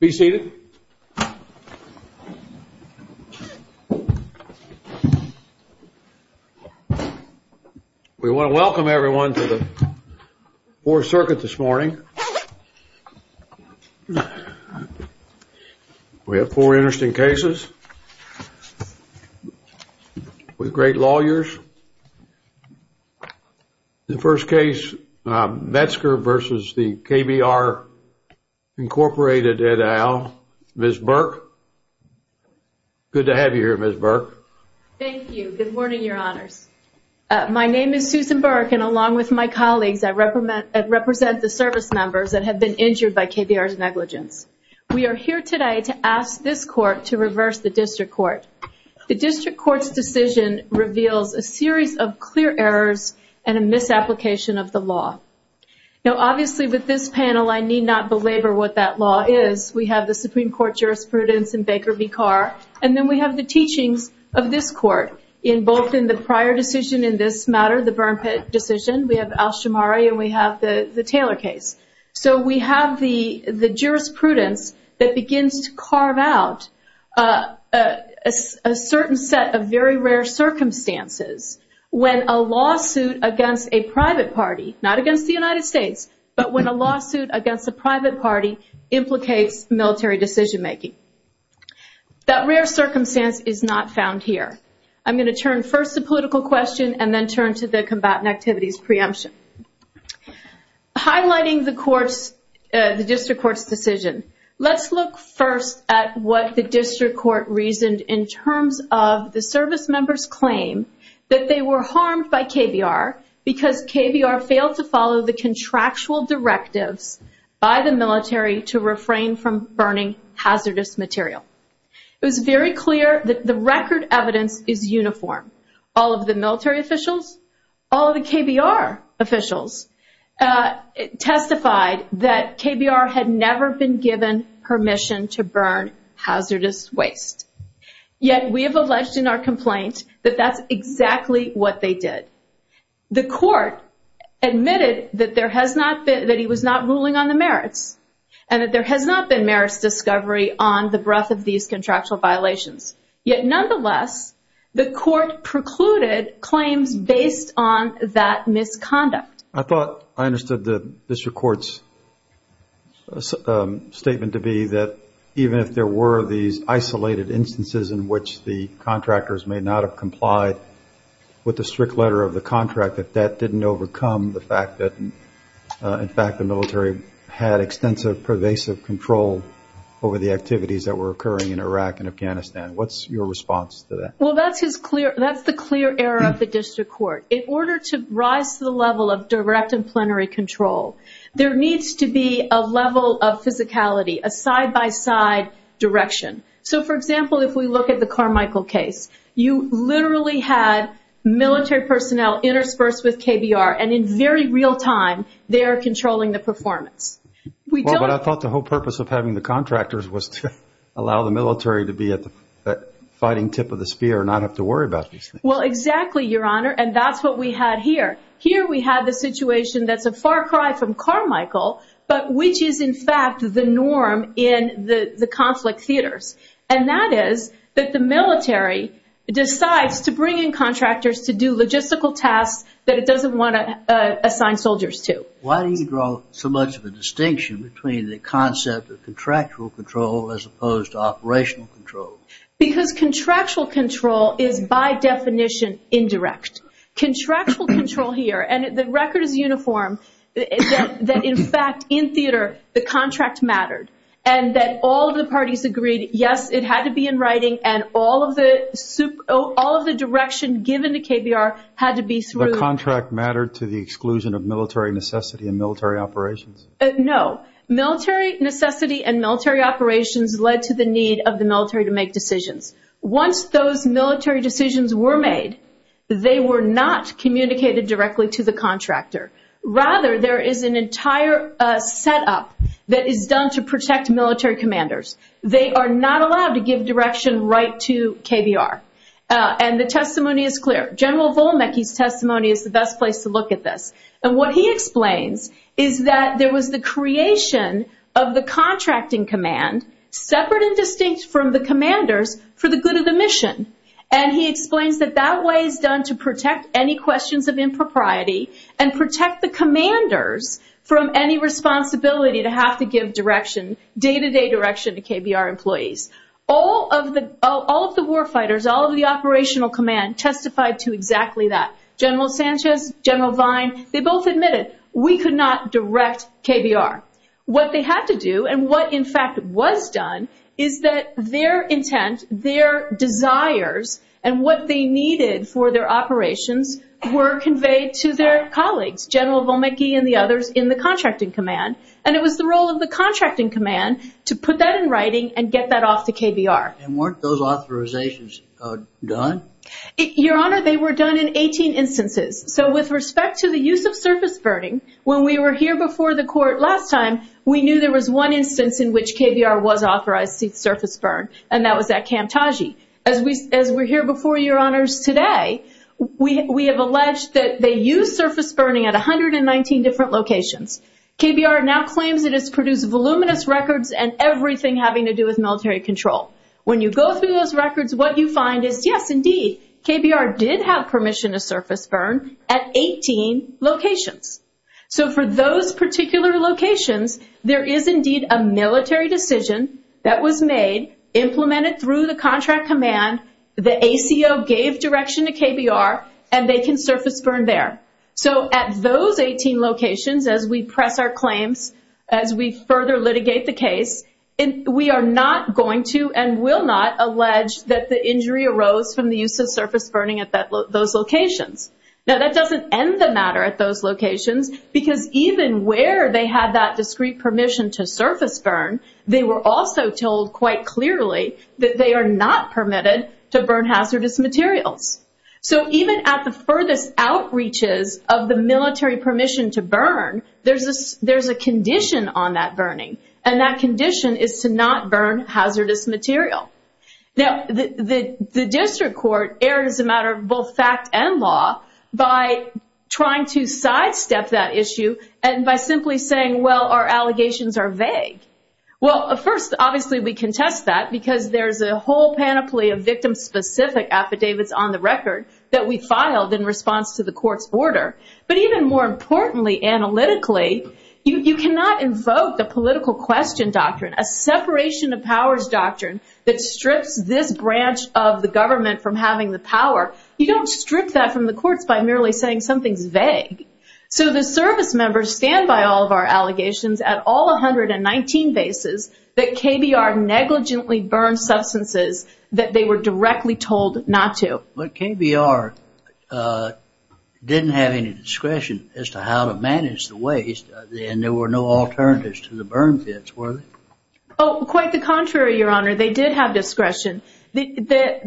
Be seated. We want to welcome everyone to the Fourth Circuit this morning. We have four interesting cases. With great lawyers. The first case, Metzgar v. KBR, Inc. Ms. Burke. Good to have you here, Ms. Burke. Thank you. Good morning, Your Honors. My name is Susan Burke, and along with my colleagues, I represent the service members that have been injured by KBR's negligence. We are here today to ask this Court to reverse the District Court. The District Court's decision reveals a series of clear errors and a misapplication of the law. Now, obviously, with this panel, I need not belabor what that law is. We have the Supreme Court jurisprudence in Baker v. Carr, and then we have the teachings of this Court, both in the prior decision in this matter, the Burn Pit decision. We have Alshamari, and we have the Taylor case. So we have the jurisprudence that begins to carve out a certain set of very rare circumstances when a lawsuit against a private party, not against the United States, but when a lawsuit against a private party implicates military decision-making. That rare circumstance is not found here. I'm going to turn first to political question and then turn to the combatant activities preemption. Highlighting the District Court's decision, let's look first at what the District Court reasoned in terms of the service members' claim that they were harmed by KBR because KBR failed to follow the contractual directives by the military to refrain from burning hazardous material. It was very clear that the record evidence is uniform. All of the military officials, all of the KBR officials testified that KBR had never been given permission to burn hazardous waste, yet we have alleged in our complaint that that's exactly what they did. The Court admitted that he was not ruling on the merits, and that there has not been merits discovery on the breadth of these contractual violations. Yet, nonetheless, the Court precluded claims based on that misconduct. I thought I understood the District Court's statement to be that even if there were these isolated instances in which the contractors may not have complied with the strict letter of the contract, that that didn't overcome the fact that, in fact, the military had extensive pervasive control over the activities that were occurring in Iraq and Afghanistan. What's your response to that? Well, that's the clear error of the District Court. In order to rise to the level of direct and plenary control, there needs to be a level of physicality, a side-by-side direction. So, for example, if we look at the Carmichael case, you literally had military personnel interspersed with KBR, and in very real time they are controlling the performance. Well, but I thought the whole purpose of having the contractors was to allow the military to be at the fighting tip of the spear and not have to worry about these things. Well, exactly, Your Honor, and that's what we had here. Here we had the situation that's a far cry from Carmichael, but which is, in fact, the norm in the conflict theaters. And that is that the military decides to bring in contractors to do logistical tasks that it doesn't want to assign soldiers to. Why do you draw so much of a distinction between the concept of contractual control as opposed to operational control? Because contractual control is, by definition, indirect. Contractual control here, and the record is uniform, that, in fact, in theater, the contract mattered, and that all the parties agreed, yes, it had to be in writing, and all of the direction given to KBR had to be through... Did the contract matter to the exclusion of military necessity and military operations? No. Military necessity and military operations led to the need of the military to make decisions. Once those military decisions were made, they were not communicated directly to the contractor. Rather, there is an entire setup that is done to protect military commanders. They are not allowed to give direction right to KBR, and the testimony is clear. General Volmecki's testimony is the best place to look at this. And what he explains is that there was the creation of the contracting command, separate and distinct from the commanders, for the good of the mission. And he explains that that way is done to protect any questions of impropriety and protect the commanders from any responsibility to have to give direction, day-to-day direction to KBR employees. All of the war fighters, all of the operational command testified to exactly that. General Sanchez, General Vine, they both admitted, we could not direct KBR. What they had to do, and what in fact was done, is that their intent, their desires, and what they needed for their operations were conveyed to their colleagues, General Volmecki and the others in the contracting command. And it was the role of the contracting command to put that in writing and get that off to KBR. And weren't those authorizations done? Your Honor, they were done in 18 instances. So with respect to the use of surface burning, when we were here before the court last time, we knew there was one instance in which KBR was authorized to surface burn, and that was at Camp Taji. As we're here before Your Honors today, we have alleged that they used surface burning at 119 different locations. KBR now claims it has produced voluminous records and everything having to do with military control. When you go through those records, what you find is, yes, indeed, KBR did have permission to surface burn at 18 locations. So for those particular locations, there is indeed a military decision that was made, implemented through the contract command, the ACO gave direction to KBR, and they can surface burn there. So at those 18 locations, as we press our claims, as we further litigate the case, we are not going to and will not allege that the injury arose from the use of surface burning at those locations. Now, that doesn't end the matter at those locations, because even where they had that discrete permission to surface burn, they were also told quite clearly that they are not permitted to burn hazardous materials. So even at the furthest outreaches of the military permission to burn, there's a condition on that burning, and that condition is to not burn hazardous material. Now, the district court erred as a matter of both fact and law by trying to sidestep that issue and by simply saying, well, our allegations are vague. Well, first, obviously, we contest that, because there's a whole panoply of victim-specific affidavits on the record that we filed in response to the court's order. But even more importantly, analytically, you cannot invoke the political question doctrine, a separation of powers doctrine that strips this branch of the government from having the power. You don't strip that from the courts by merely saying something's vague. So the service members stand by all of our allegations at all 119 bases that KBR negligently burned substances that they were directly told not to. But KBR didn't have any discretion as to how to manage the waste, and there were no alternatives to the burn pits, were there? Oh, quite the contrary, Your Honor. They did have discretion. What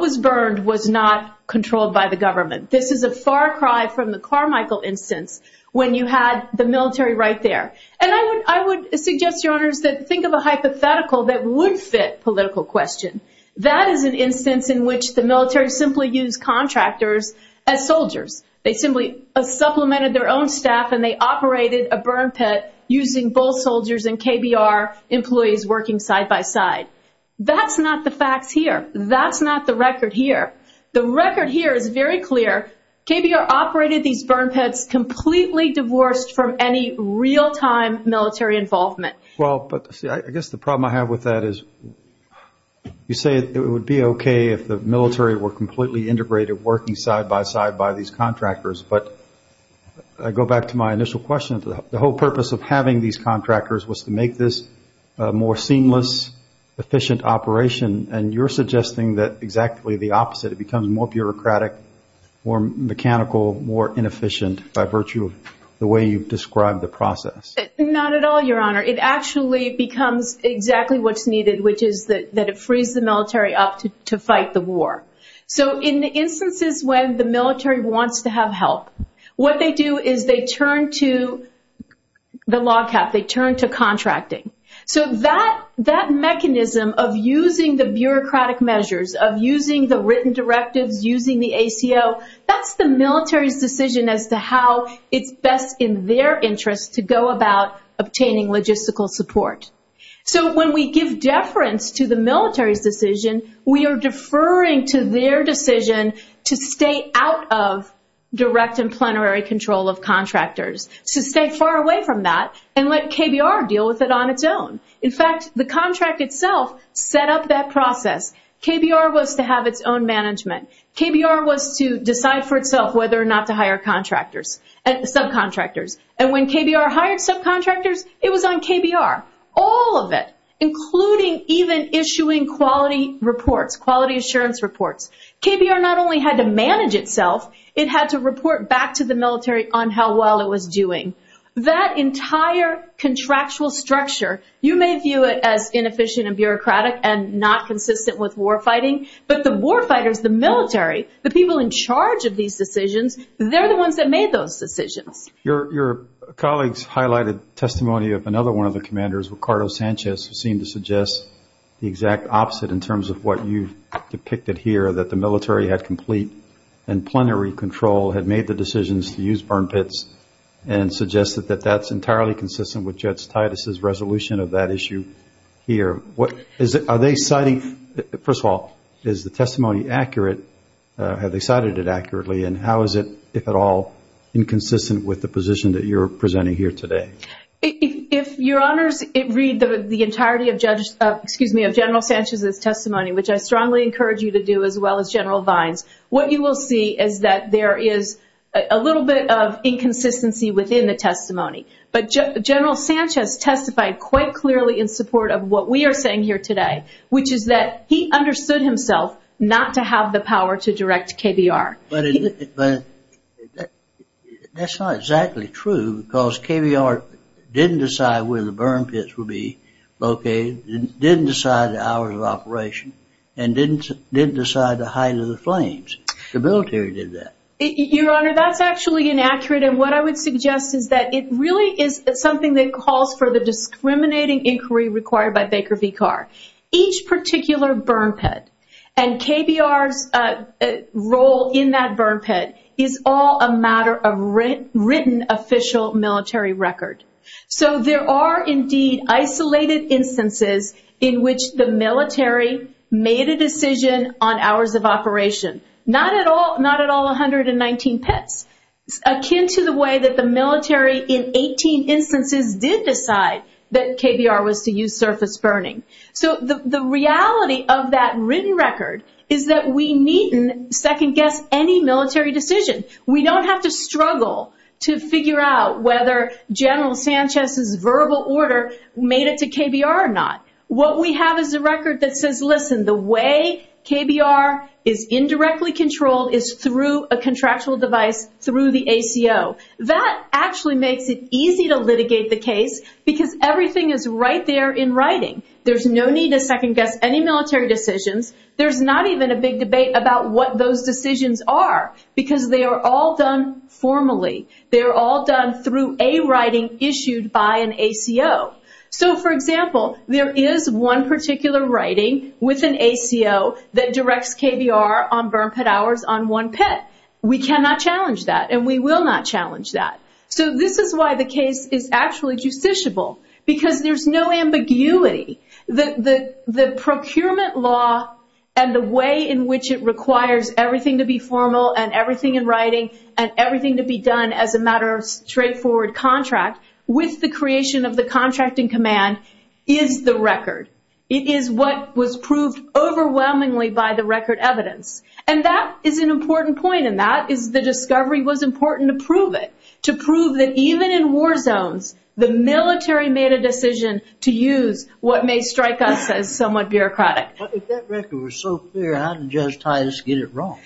was burned was not controlled by the government. This is a far cry from the Carmichael instance when you had the military right there. And I would suggest, Your Honors, that think of a hypothetical that would fit political question. That is an instance in which the military simply used contractors as soldiers. They simply supplemented their own staff, and they operated a burn pit using both soldiers and KBR employees working side by side. That's not the facts here. That's not the record here. The record here is very clear. KBR operated these burn pits completely divorced from any real-time military involvement. Well, but see, I guess the problem I have with that is you say it would be okay if the military were completely integrated working side by side by these contractors. But I go back to my initial question. The whole purpose of having these contractors was to make this a more seamless, efficient operation, and you're suggesting that exactly the opposite. It becomes more bureaucratic, more mechanical, more inefficient by virtue of the way you've described the process. Not at all, Your Honor. It actually becomes exactly what's needed, which is that it frees the military up to fight the war. So in the instances when the military wants to have help, what they do is they turn to the log cap. They turn to contracting. So that mechanism of using the bureaucratic measures, of using the written directives, using the ACO, that's the military's decision as to how it's best in their interest to go about obtaining logistical support. So when we give deference to the military's decision, we are deferring to their decision to stay out of direct and plenary control of contractors, to stay far away from that and let KBR deal with it on its own. In fact, the contract itself set up that process. KBR was to have its own management. KBR was to decide for itself whether or not to hire contractors, subcontractors. And when KBR hired subcontractors, it was on KBR. All of it, including even issuing quality reports, quality assurance reports. KBR not only had to manage itself, it had to report back to the military on how well it was doing. That entire contractual structure, you may view it as inefficient and bureaucratic and not consistent with war fighting, but the war fighters, the military, the people in charge of these decisions, they're the ones that made those decisions. Your colleagues highlighted testimony of another one of the commanders, Ricardo Sanchez, who seemed to suggest the exact opposite in terms of what you've depicted here, that the military had complete and plenary control, had made the decisions to use burn pits, and suggested that that's entirely consistent with Judge Titus' resolution of that issue here. Are they citing, first of all, is the testimony accurate? Have they cited it accurately? And how is it, if at all, inconsistent with the position that you're presenting here today? If your honors read the entirety of General Sanchez's testimony, which I strongly encourage you to do as well as General Vines, what you will see is that there is a little bit of inconsistency within the testimony. But General Sanchez testified quite clearly in support of what we are saying here today, which is that he understood himself not to have the power to direct KBR. But that's not exactly true because KBR didn't decide where the burn pits would be located, didn't decide the hours of operation, and didn't decide the height of the flames. The military did that. Your honor, that's actually inaccurate, and what I would suggest is that it really is something that calls for the discriminating inquiry required by Baker v. Carr. Each particular burn pit, and KBR's role in that burn pit, is all a matter of written official military record. So there are indeed isolated instances in which the military made a decision on hours of operation. Not at all 119 pits. It's akin to the way that the military, in 18 instances, did decide that KBR was to use surface burning. So the reality of that written record is that we needn't second-guess any military decision. We don't have to struggle to figure out whether General Sanchez's verbal order made it to KBR or not. What we have is a record that says, listen, the way KBR is indirectly controlled is through a contractual device through the ACO. That actually makes it easy to litigate the case because everything is right there in writing. There's no need to second-guess any military decisions. There's not even a big debate about what those decisions are because they are all done formally. They are all done through a writing issued by an ACO. So, for example, there is one particular writing with an ACO that directs KBR on burn pit hours on one pit. We cannot challenge that and we will not challenge that. So this is why the case is actually justiciable because there's no ambiguity. The procurement law and the way in which it requires everything to be formal and everything in writing and everything to be done as a matter of straightforward contract, with the creation of the contracting command, is the record. It is what was proved overwhelmingly by the record evidence. And that is an important point and that is the discovery was important to prove it. To prove that even in war zones, the military made a decision to use what may strike us as somewhat bureaucratic. But if that record was so clear, how did Judge Titus get it wrong?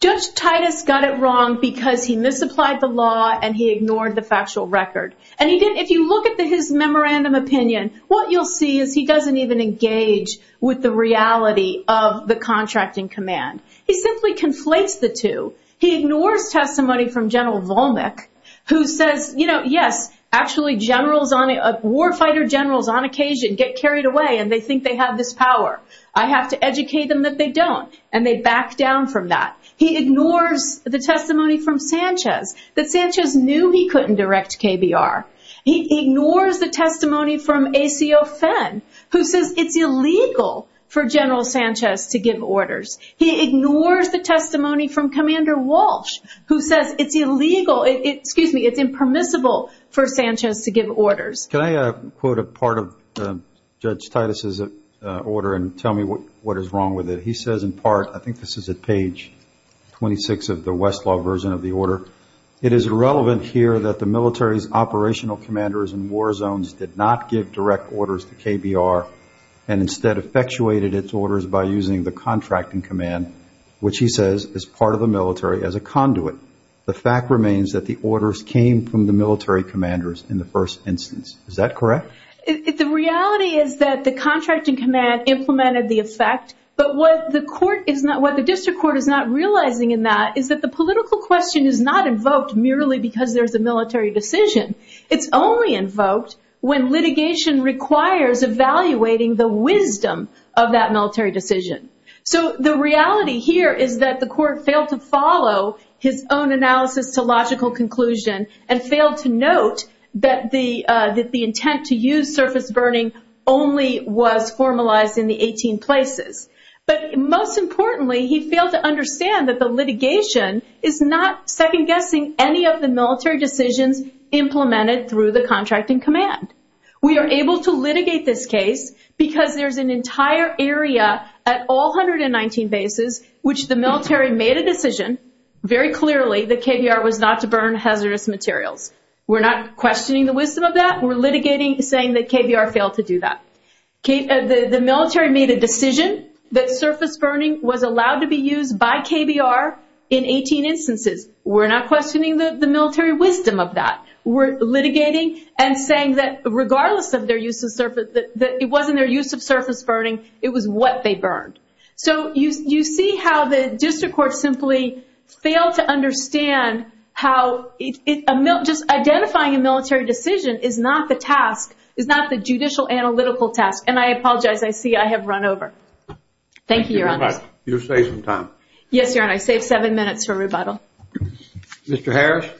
Judge Titus got it wrong because he misapplied the law and he ignored the factual record. And if you look at his memorandum opinion, what you'll see is he doesn't even engage with the reality of the contracting command. He simply conflates the two. He ignores testimony from General Volnick who says, you know, yes, actually war fighter generals on occasion get carried away and they think they have this power. I have to educate them that they don't. And they back down from that. He ignores the testimony from Sanchez, that Sanchez knew he couldn't direct KBR. He ignores the testimony from ACO Fenn who says it's illegal for General Sanchez to give orders. He ignores the testimony from Commander Walsh who says it's illegal, excuse me, it's impermissible for Sanchez to give orders. Can I quote a part of Judge Titus' order and tell me what is wrong with it? He says in part, I think this is at page 26 of the Westlaw version of the order, it is irrelevant here that the military's operational commanders in war zones did not give direct orders to KBR and instead effectuated its orders by using the contracting command, which he says is part of the military as a conduit. The fact remains that the orders came from the military commanders in the first instance. Is that correct? The reality is that the contracting command implemented the effect, but what the district court is not realizing in that is that the political question is not invoked merely because there's a military decision. It's only invoked when litigation requires evaluating the wisdom of that military decision. So the reality here is that the court failed to follow his own analysis to logical conclusion and failed to note that the intent to use surface burning only was formalized in the 18 places. But most importantly, he failed to understand that the litigation is not second-guessing any of the military decisions implemented through the contracting command. We are able to litigate this case because there's an entire area at all 119 bases which the military made a decision very clearly that KBR was not to burn hazardous materials. We're not questioning the wisdom of that. We're litigating saying that KBR failed to do that. The military made a decision that surface burning was allowed to be used by KBR in 18 instances. We're not questioning the military wisdom of that. We're litigating and saying that regardless of their use of surface, that it wasn't their use of surface burning, it was what they burned. So you see how the district court simply failed to understand how just identifying a military decision is not the task, is not the judicial analytical task. And I apologize. I see I have run over. Thank you, Your Honor. You saved some time. Yes, Your Honor. I saved seven minutes for rebuttal. Mr. Harris.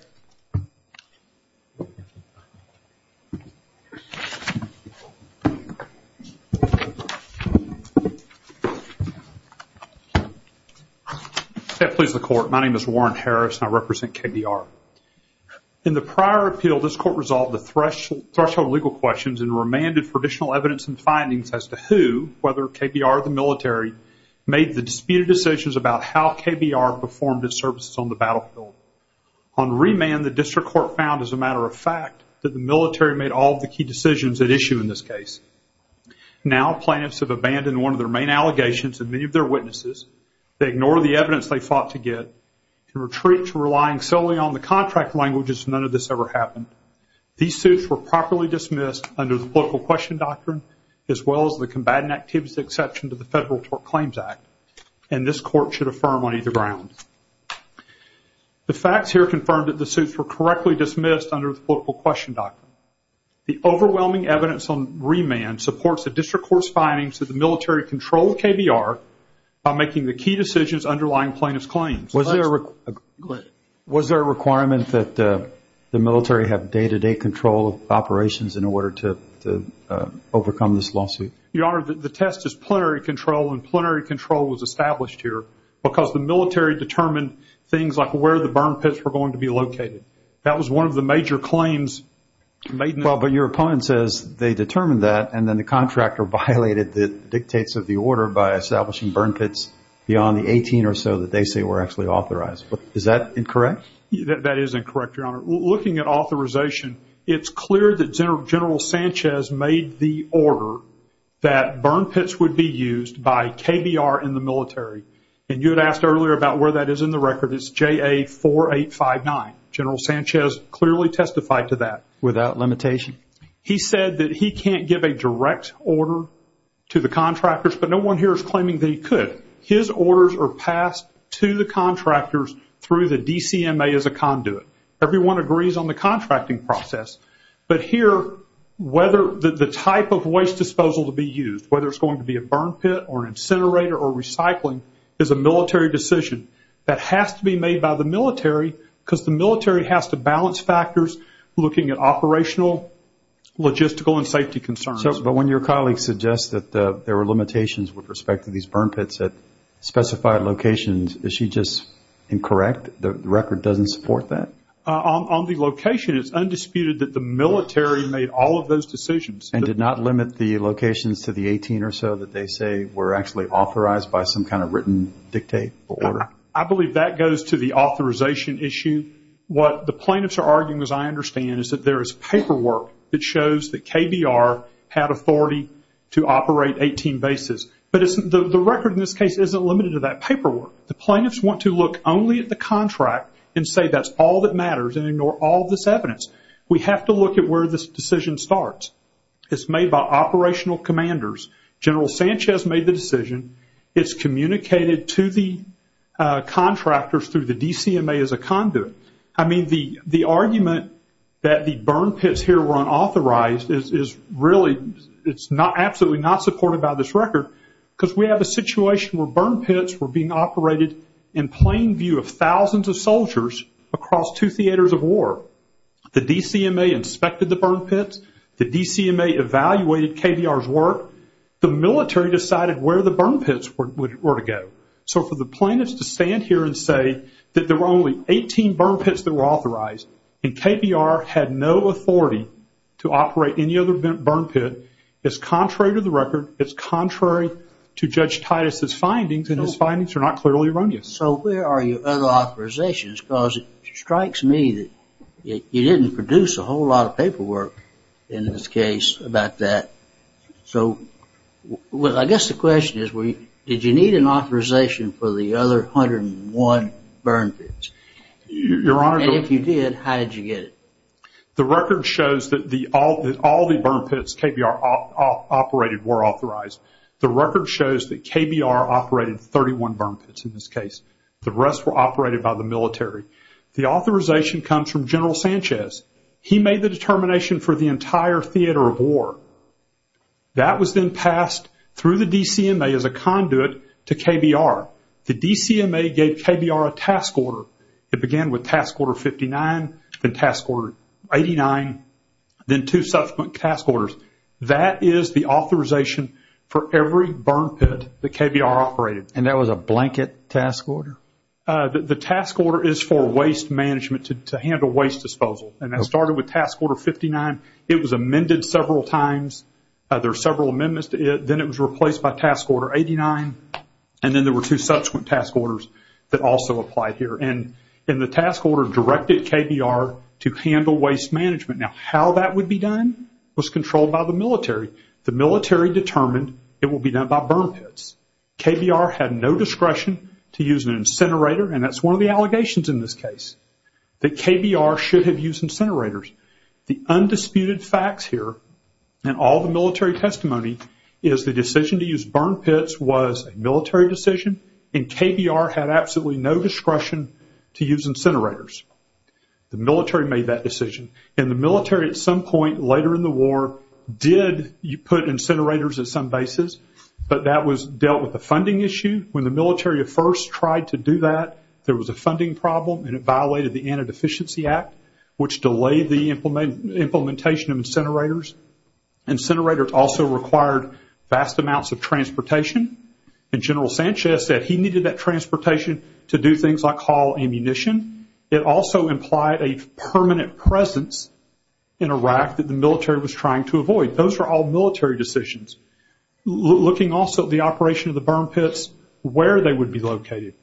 May it please the court. My name is Warren Harris and I represent KBR. In the prior appeal, this court resolved the threshold legal questions and remanded for additional evidence and findings as to who, whether KBR or the military, made the disputed decisions about how KBR performed its services on the battlefield. On remand, the district court found, as a matter of fact, that the military made all of the key decisions at issue in this case. Now, plaintiffs have abandoned one of their main allegations and many of their witnesses. They ignore the evidence they fought to get and retreat to relying solely on the contract languages as none of this ever happened. These suits were properly dismissed under the political question doctrine as well as the combatant activities exception to the Federal Tort Claims Act, and this court should affirm on either ground. The facts here confirm that the suits were correctly dismissed under the political question doctrine. The overwhelming evidence on remand supports the district court's findings that the military controlled KBR by making the key decisions underlying plaintiff's claims. Was there a requirement that the military have day-to-day control of operations in order to overcome this lawsuit? Your Honor, the test is plenary control, and plenary control was established here because the military determined things like where the burn pits were going to be located. That was one of the major claims. Well, but your opponent says they determined that, and then the contractor violated the dictates of the order by establishing burn pits beyond the 18 or so that they say were actually authorized. Is that incorrect? That is incorrect, Your Honor. Looking at authorization, it's clear that General Sanchez made the order that burn pits would be used by KBR in the military, and you had asked earlier about where that is in the record. It's JA-4859. General Sanchez clearly testified to that. Without limitation? He said that he can't give a direct order to the contractors, but no one here is claiming that he could. His orders are passed to the contractors through the DCMA as a conduit. Everyone agrees on the contracting process, but here the type of waste disposal to be used, whether it's going to be a burn pit or an incinerator or recycling, is a military decision that has to be made by the military because the military has to balance factors looking at operational, logistical, and safety concerns. But when your colleague suggests that there were limitations with respect to these burn pits at specified locations, is she just incorrect? The record doesn't support that? On the location, it's undisputed that the military made all of those decisions. And did not limit the locations to the 18 or so that they say were actually authorized by some kind of written dictate or order? I believe that goes to the authorization issue. What the plaintiffs are arguing, as I understand, is that there is paperwork that shows that KBR had authority to operate 18 bases. But the record in this case isn't limited to that paperwork. The plaintiffs want to look only at the contract and say that's all that matters and ignore all of this evidence. We have to look at where this decision starts. It's made by operational commanders. General Sanchez made the decision. It's communicated to the contractors through the DCMA as a conduit. I mean, the argument that the burn pits here were unauthorized is really, it's absolutely not supported by this record. Because we have a situation where burn pits were being operated in plain view of thousands of soldiers across two theaters of war. The DCMA inspected the burn pits. The DCMA evaluated KBR's work. The military decided where the burn pits were to go. So for the plaintiffs to stand here and say that there were only 18 burn pits that were authorized and KBR had no authority to operate any other burn pit, it's contrary to the record, it's contrary to Judge Titus' findings, and his findings are not clearly erroneous. So where are your other authorizations? Because it strikes me that you didn't produce a whole lot of paperwork in this case about that. So I guess the question is, did you need an authorization for the other 101 burn pits? And if you did, how did you get it? The record shows that all the burn pits KBR operated were authorized. The record shows that KBR operated 31 burn pits in this case. The rest were operated by the military. The authorization comes from General Sanchez. He made the determination for the entire theater of war. That was then passed through the DCMA as a conduit to KBR. The DCMA gave KBR a task order. It began with Task Order 59, then Task Order 89, then two subsequent task orders. That is the authorization for every burn pit that KBR operated. And that was a blanket task order? The task order is for waste management to handle waste disposal. And that started with Task Order 59. It was amended several times. There are several amendments to it. Then it was replaced by Task Order 89. And then there were two subsequent task orders that also applied here. And the task order directed KBR to handle waste management. Now, how that would be done was controlled by the military. The military determined it would be done by burn pits. KBR had no discretion to use an incinerator, and that's one of the allegations in this case, that KBR should have used incinerators. The undisputed facts here, and all the military testimony, is the decision to use burn pits was a military decision, and KBR had absolutely no discretion to use incinerators. The military made that decision. And the military at some point later in the war did put incinerators at some bases, but that was dealt with a funding issue. When the military first tried to do that, there was a funding problem, and it violated the Antideficiency Act, which delayed the implementation of incinerators. Incinerators also required vast amounts of transportation, and General Sanchez said he needed that transportation to do things like haul ammunition. It also implied a permanent presence in Iraq that the military was trying to avoid. Those were all military decisions. Looking also at the operation of the burn pits, where they would be located,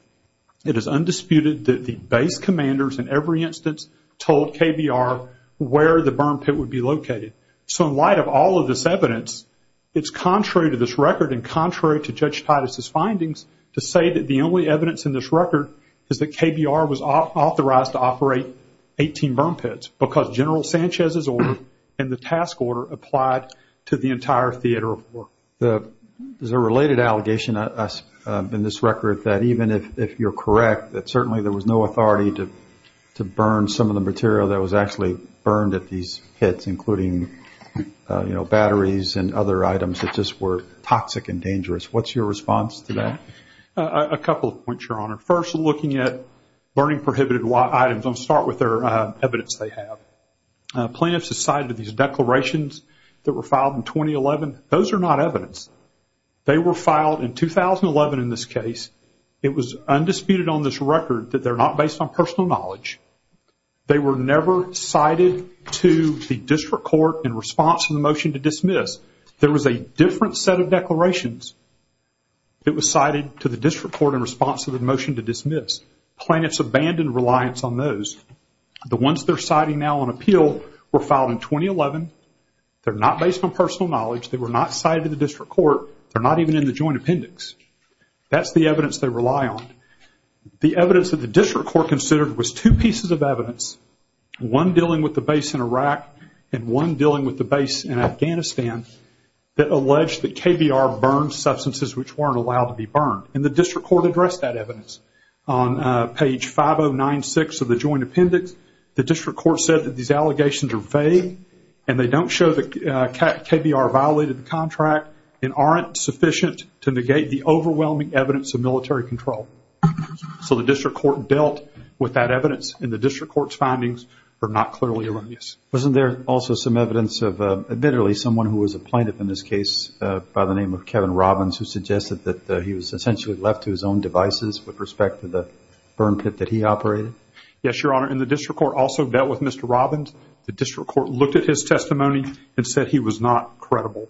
it is undisputed that the base commanders in every instance told KBR where the burn pit would be located. So in light of all of this evidence, it's contrary to this record and contrary to Judge Titus' findings to say that the only evidence in this record is that KBR was authorized to operate 18 burn pits, because General Sanchez's order and the task order applied to the entire theater of war. There's a related allegation in this record that even if you're correct, that certainly there was no authority to burn some of the material that was actually burned at these pits, including batteries and other items that just were toxic and dangerous. What's your response to that? A couple of points, Your Honor. First, we're looking at burning prohibited items. Let's start with the evidence they have. Plaintiffs cited these declarations that were filed in 2011. Those are not evidence. They were filed in 2011 in this case. It was undisputed on this record that they're not based on personal knowledge. They were never cited to the district court in response to the motion to dismiss. There was a different set of declarations. It was cited to the district court in response to the motion to dismiss. Plaintiffs abandoned reliance on those. The ones they're citing now on appeal were filed in 2011. They're not based on personal knowledge. They were not cited to the district court. They're not even in the joint appendix. That's the evidence they rely on. The evidence that the district court considered was two pieces of evidence, one dealing with the base in Iraq and one dealing with the base in Afghanistan, that alleged that KBR burned substances which weren't allowed to be burned. The district court addressed that evidence. On page 5096 of the joint appendix, the district court said that these allegations are vague and they don't show that KBR violated the contract and aren't sufficient to negate the overwhelming evidence of military control. The district court dealt with that evidence, and the district court's findings are not clearly reliable. Wasn't there also some evidence of admittedly someone who was a plaintiff in this case by the name of Kevin Robbins who suggested that he was essentially left to his own devices with respect to the burn pit that he operated? Yes, Your Honor, and the district court also dealt with Mr. Robbins. The district court looked at his testimony and said he was not credible.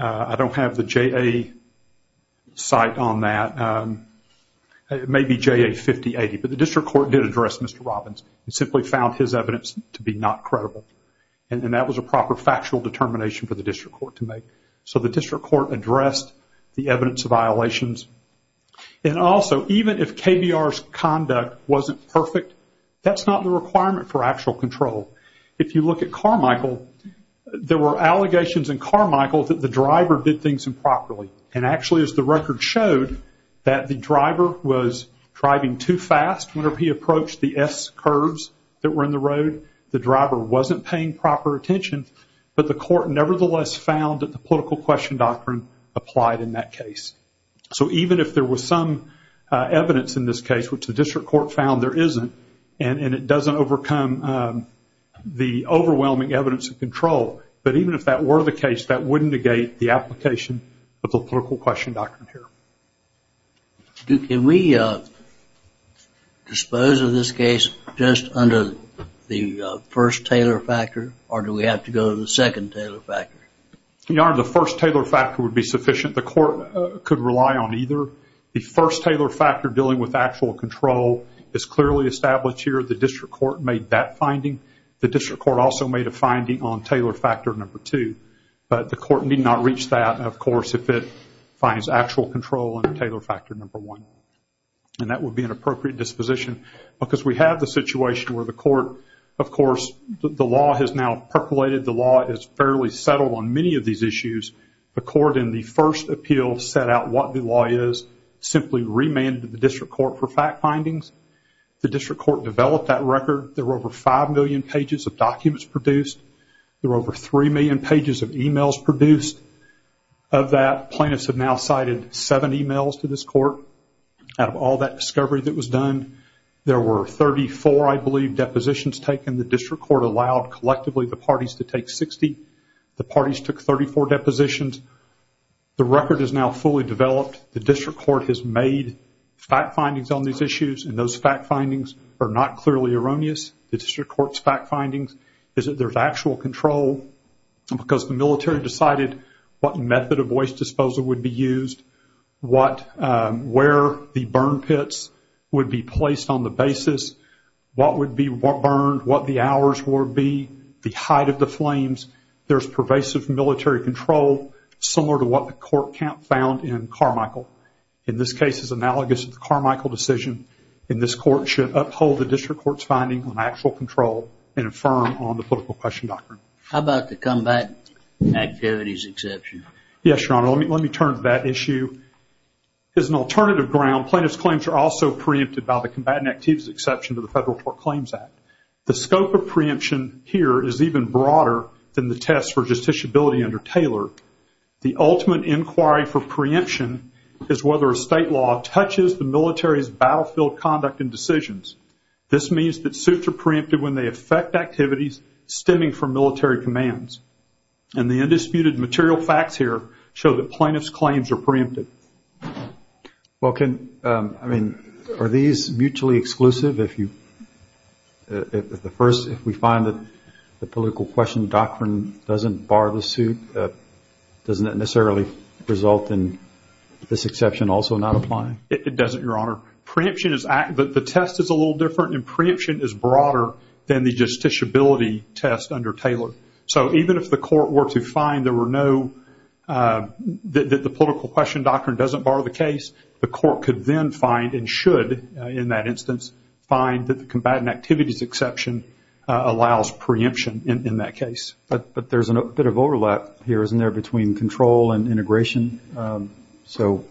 I don't have the JA site on that. It may be JA 5080, but the district court did address Mr. Robbins and simply found his evidence to be not credible, and that was a proper factual determination for the district court to make. So the district court addressed the evidence of violations, and also even if KBR's conduct wasn't perfect, that's not the requirement for actual control. If you look at Carmichael, there were allegations in Carmichael that the driver did things improperly, and actually as the record showed that the driver was driving too fast whenever he approached the S curves that were in the road. The driver wasn't paying proper attention, but the court nevertheless found that the political question doctrine applied in that case. So even if there was some evidence in this case, which the district court found there isn't, and it doesn't overcome the overwhelming evidence of control, but even if that were the case, that wouldn't negate the application of the political question doctrine here. Can we dispose of this case just under the first Taylor factor, or do we have to go to the second Taylor factor? Your Honor, the first Taylor factor would be sufficient. The court could rely on either. The first Taylor factor dealing with actual control is clearly established here. The district court made that finding. The district court also made a finding on Taylor factor number two, but the court need not reach that, of course, if it finds actual control under Taylor factor number one, and that would be an appropriate disposition because we have the situation where the court, of course, the law has now percolated. The law is fairly settled on many of these issues. The court in the first appeal set out what the law is, simply remanded the district court for fact findings. The district court developed that record. There were over five million pages of documents produced. There were over three million pages of emails produced. Of that, plaintiffs have now cited seven emails to this court. Out of all that discovery that was done, there were 34, I believe, depositions taken. The district court allowed collectively the parties to take 60. The parties took 34 depositions. The record is now fully developed. The district court has made fact findings on these issues, and those fact findings are not clearly erroneous. The district court's fact findings is that there's actual control because the military decided what method of waste disposal would be used, where the burn pits would be placed on the basis, what would be burned, what the hours would be, the height of the flames. There's pervasive military control similar to what the court found in Carmichael. In this case, it's analogous to the Carmichael decision. And this court should uphold the district court's finding on actual control and affirm on the political question doctrine. How about the combat activities exception? Yes, Your Honor. Let me turn to that issue. As an alternative ground, plaintiffs' claims are also preempted by the combat activities exception to the Federal Court Claims Act. The scope of preemption here is even broader than the test for justiciability under Taylor. The ultimate inquiry for preemption is whether a state law touches the military's battlefield conduct and decisions. This means that suits are preempted when they affect activities stemming from military commands. And the undisputed material facts here show that plaintiffs' claims are preempted. Are these mutually exclusive? If we find that the political question doctrine doesn't bar the suit, doesn't that necessarily result in this exception also not applying? It doesn't, Your Honor. The test is a little different, and preemption is broader than the justiciability test under Taylor. So even if the court were to find that the political question doctrine doesn't bar the case, the court could then find and should, in that instance, find that the combat activities exception allows preemption in that case. But there's a bit of overlap here, isn't there, between control and integration? So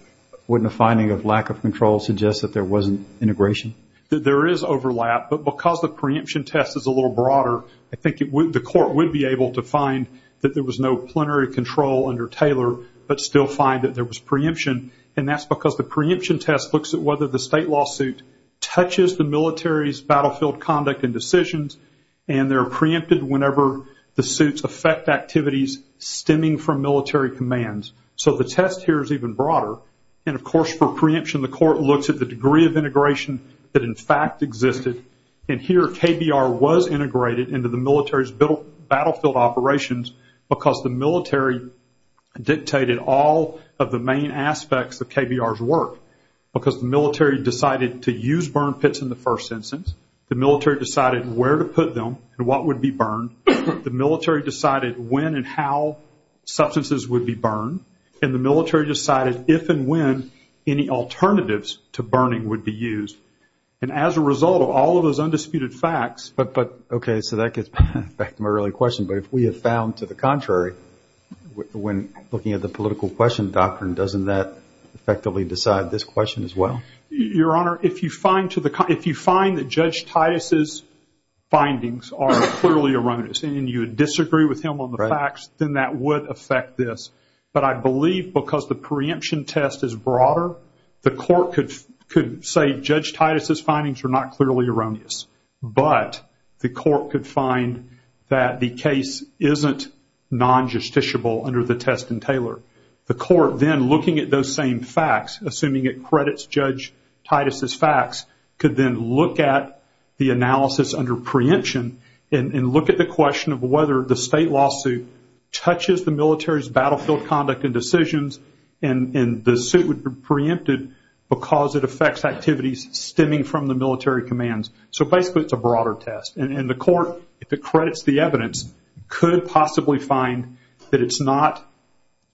wouldn't a finding of lack of control suggest that there wasn't integration? There is overlap, but because the preemption test is a little broader, I think the court would be able to find that there was no plenary control under Taylor but still find that there was preemption, and that's because the preemption test looks at whether the state lawsuit touches the military's battlefield conduct and decisions, and they're preempted whenever the suits affect activities stemming from military commands. So the test here is even broader. And, of course, for preemption, the court looks at the degree of integration that, in fact, existed. And here KBR was integrated into the military's battlefield operations because the military dictated all of the main aspects of KBR's work. Because the military decided to use burn pits in the first instance, the military decided where to put them and what would be burned, the military decided when and how substances would be burned, and the military decided if and when any alternatives to burning would be used. And as a result of all of those undisputed facts – Okay, so that gets back to my earlier question. But if we have found to the contrary, when looking at the political question doctrine, doesn't that effectively decide this question as well? Your Honor, if you find that Judge Titus' findings are clearly erroneous and you disagree with him on the facts, then that would affect this. But I believe because the preemption test is broader, the court could say Judge Titus' findings are not clearly erroneous, but the court could find that the case isn't non-justiciable under the test in Taylor. The court then, looking at those same facts, assuming it credits Judge Titus' facts, could then look at the analysis under preemption and look at the question of whether the state lawsuit touches the military's battlefield conduct and decisions, and the suit would be preempted because it affects activities stemming from the military commands. So basically it's a broader test. And the court, if it credits the evidence, could possibly find that it's not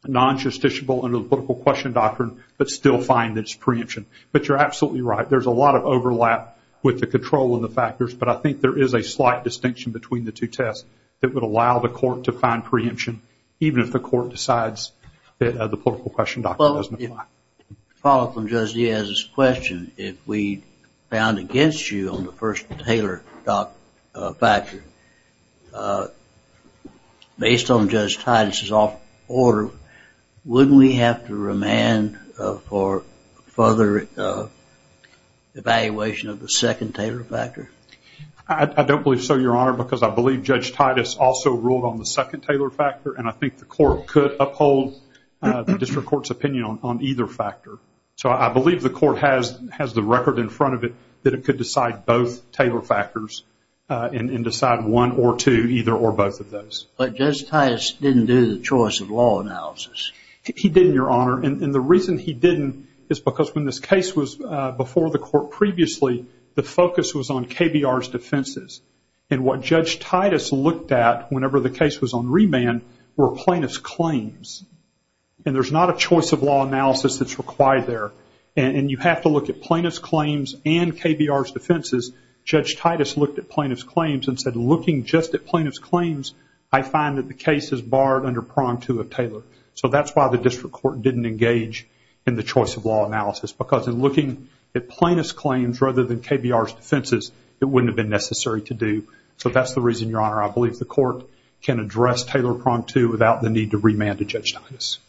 non-justiciable under the political question doctrine but still find that it's preemption. But you're absolutely right. There's a lot of overlap with the control of the factors, but I think there is a slight distinction between the two tests that would allow the court to find preemption, even if the court decides that the political question doctrine doesn't apply. To follow up on Judge Diaz's question, if we found against you on the first Taylor factor, based on Judge Titus' order, wouldn't we have to remand for further evaluation of the second Taylor factor? I don't believe so, Your Honor, because I believe Judge Titus also ruled on the second Taylor factor, and I think the court could uphold the district court's opinion on either factor. So I believe the court has the record in front of it that it could decide both Taylor factors and decide one or two, either or both of those. But Judge Titus didn't do the choice of law analysis. He didn't, Your Honor, and the reason he didn't is because when this case was before the court previously, the focus was on KBR's defenses. And what Judge Titus looked at, whenever the case was on remand, were plaintiff's claims. And there's not a choice of law analysis that's required there. And you have to look at plaintiff's claims and KBR's defenses. Judge Titus looked at plaintiff's claims and said, looking just at plaintiff's claims, I find that the case is barred under prong two of Taylor. So that's why the district court didn't engage in the choice of law analysis, because in looking at plaintiff's claims rather than KBR's defenses, it wouldn't have been necessary to do. So that's the reason, Your Honor, I believe the court can address Taylor prong two without the need to remand to Judge Titus.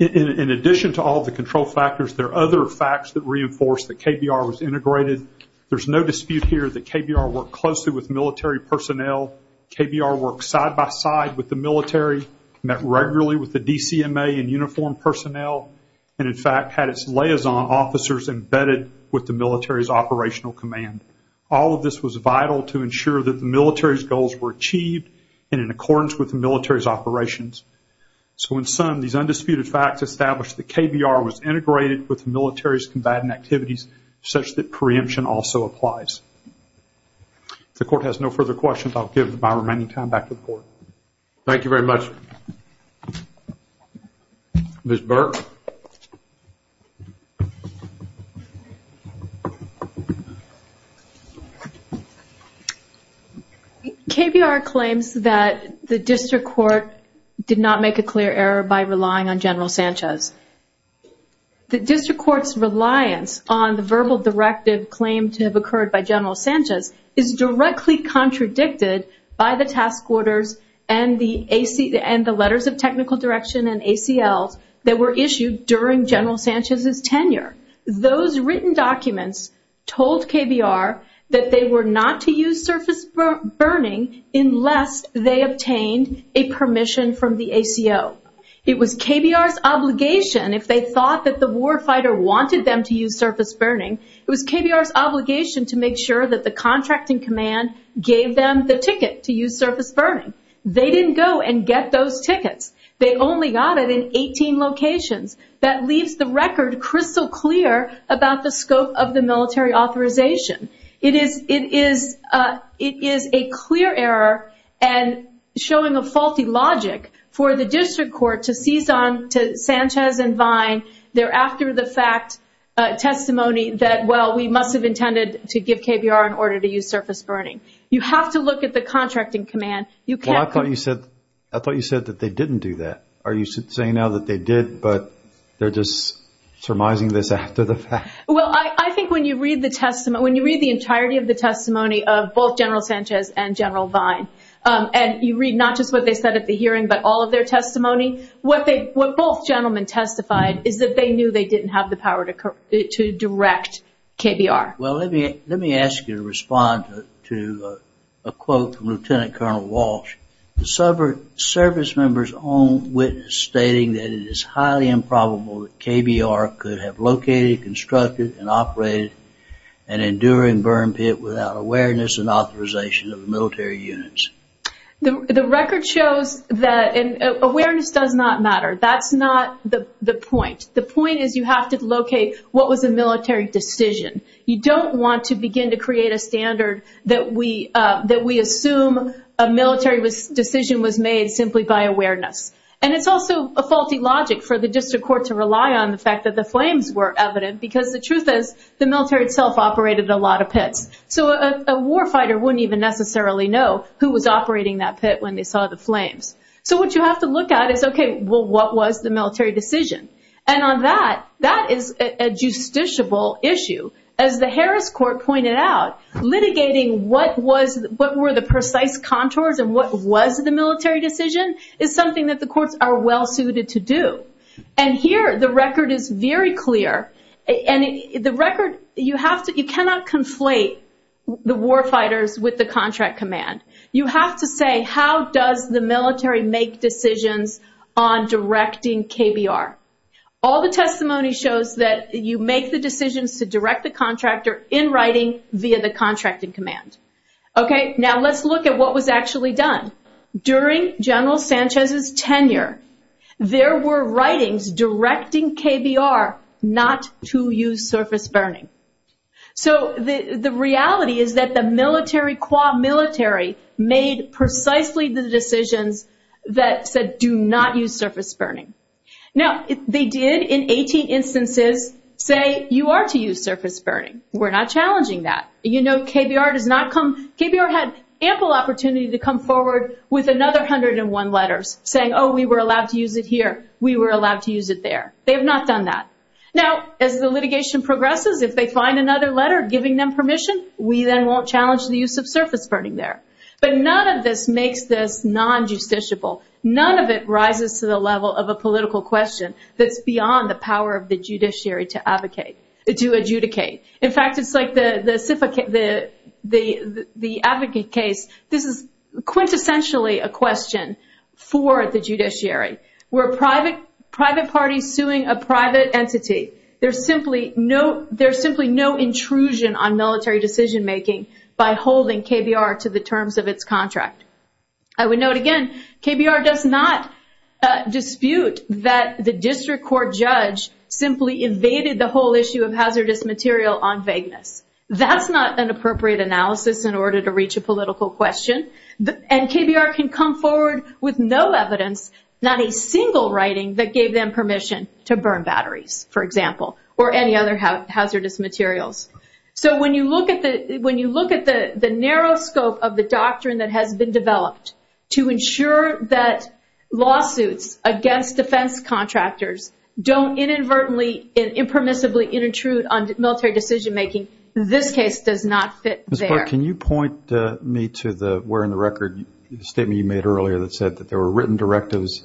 In addition to all the control factors, there are other facts that reinforce that KBR was integrated. There's no dispute here that KBR worked closely with military personnel. KBR worked side by side with the military, met regularly with the DCMA and uniformed personnel, and in fact had its liaison officers embedded with the military's operational command. All of this was vital to ensure that the military's goals were achieved and in accordance with the military's operations. So in sum, these undisputed facts establish that KBR was integrated with the military's combatant activities such that preemption also applies. If the court has no further questions, I'll give my remaining time back to the court. Thank you very much. Thank you. Ms. Burke. KBR claims that the district court did not make a clear error by relying on General Sanchez. The district court's reliance on the verbal directive claimed to have occurred by General Sanchez is directly contradicted by the task orders and the letters of technical direction and ACLs that were issued during General Sanchez's tenure. Those written documents told KBR that they were not to use surface burning unless they obtained a permission from the ACO. It was KBR's obligation, if they thought that the warfighter wanted them to use surface burning, it was KBR's obligation to make sure that the contracting command gave them the ticket to use surface burning. They didn't go and get those tickets. They only got it in 18 locations. That leaves the record crystal clear about the scope of the military authorization. It is a clear error and showing a faulty logic for the district court to seize on to Sanchez and Vine there after the fact testimony that, well, we must have intended to give KBR an order to use surface burning. You have to look at the contracting command. Well, I thought you said that they didn't do that. Are you saying now that they did but they're just surmising this after the fact? Well, I think when you read the testimony, when you read the entirety of the testimony of both General Sanchez and General Vine, and you read not just what they said at the hearing but all of their testimony, what both gentlemen testified is that they knew they didn't have the power to direct KBR. Well, let me ask you to respond to a quote from Lieutenant Colonel Walsh. The service member's own witness stating that it is highly improbable that KBR could have located, constructed, and operated an enduring burn pit without awareness and authorization of the military units. The record shows that awareness does not matter. That's not the point. The point is you have to locate what was a military decision. You don't want to begin to create a standard that we assume a military decision was made simply by awareness. And it's also a faulty logic for the district court to rely on the fact that the flames were evident because the truth is the military itself operated a lot of pits. So a war fighter wouldn't even necessarily know who was operating that pit when they saw the flames. So what you have to look at is, okay, well, what was the military decision? And on that, that is a justiciable issue. As the Harris Court pointed out, litigating what were the precise contours and what was the military decision is something that the courts are well-suited to do. And here the record is very clear. And the record, you cannot conflate the war fighters with the contract command. You have to say how does the military make decisions on directing KBR. All the testimony shows that you make the decisions to direct the contractor in writing via the contracting command. Okay, now let's look at what was actually done. During General Sanchez's tenure, there were writings directing KBR not to use surface burning. So the reality is that the military qua military made precisely the decisions that said do not use surface burning. Now, they did in 18 instances say you are to use surface burning. We're not challenging that. KBR had ample opportunity to come forward with another 101 letters saying, oh, we were allowed to use it here. We were allowed to use it there. They have not done that. Now, as the litigation progresses, if they find another letter giving them permission, we then won't challenge the use of surface burning there. But none of this makes this non-justiciable. None of it rises to the level of a political question that's beyond the power of the judiciary to adjudicate. In fact, it's like the advocate case. This is quintessentially a question for the judiciary. We're a private party suing a private entity. There's simply no intrusion on military decision-making by holding KBR to the terms of its contract. I would note again, KBR does not dispute that the district court judge simply evaded the whole issue of hazardous material on vagueness. That's not an appropriate analysis in order to reach a political question. And KBR can come forward with no evidence, not a single writing that gave them permission to burn batteries, for example, or any other hazardous materials. So when you look at the narrow scope of the doctrine that has been developed to ensure that lawsuits against defense contractors don't inadvertently and impermissibly intrude on military decision-making, this case does not fit there. Ms. Clark, can you point me to the where in the record statement you made earlier that said that there were written directives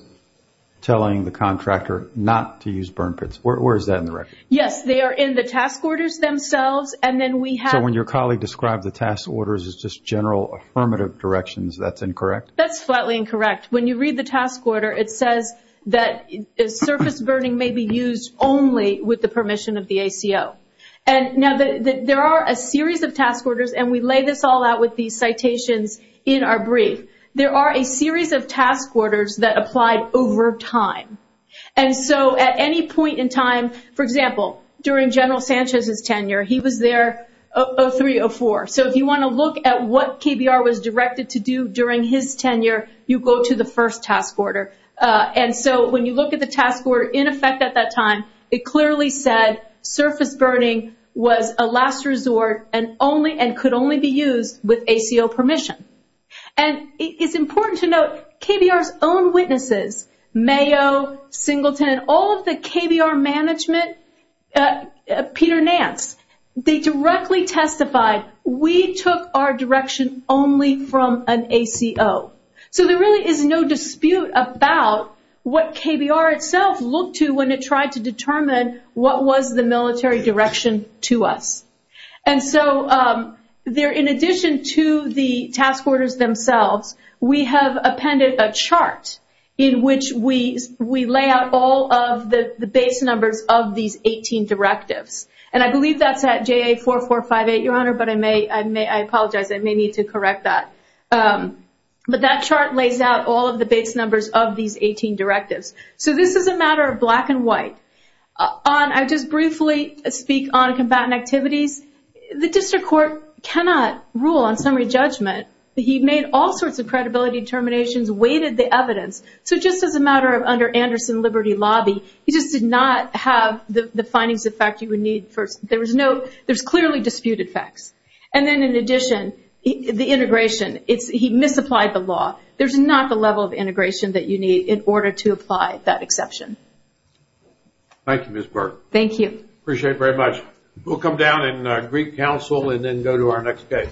telling the contractor not to use burn pits? Where is that in the record? Yes, they are in the task orders themselves. So when your colleague described the task orders as just general affirmative directions, that's incorrect? That's flatly incorrect. When you read the task order, it says that surface burning may be used only with the permission of the ACO. Now, there are a series of task orders, and we lay this all out with these citations in our brief. There are a series of task orders that applied over time. And so at any point in time, for example, during General Sanchez's tenure, he was there 03-04. So if you want to look at what KBR was directed to do during his tenure, you go to the first task order. And so when you look at the task order in effect at that time, it clearly said surface burning was a last resort and could only be used with ACO permission. And it's important to note KBR's own witnesses, Mayo, Singleton, and all of the KBR management, Peter Nance, they directly testified, we took our direction only from an ACO. So there really is no dispute about what KBR itself looked to when it tried to determine what was the military direction to us. And so in addition to the task orders themselves, we have appended a chart in which we lay out all of the base numbers of these 18 directives. And I believe that's at JA 4458, Your Honor, but I apologize, I may need to correct that. But that chart lays out all of the base numbers of these 18 directives. So this is a matter of black and white. I'll just briefly speak on combatant activities. The district court cannot rule on summary judgment. He made all sorts of credibility determinations, weighted the evidence. So just as a matter of under Anderson Liberty Lobby, he just did not have the findings of fact you would need. There's clearly disputed facts. And then in addition, the integration, he misapplied the law. There's not the level of integration that you need in order to apply that exception. Thank you, Ms. Burke. Thank you. Appreciate it very much. We'll come down and greet counsel and then go to our next case.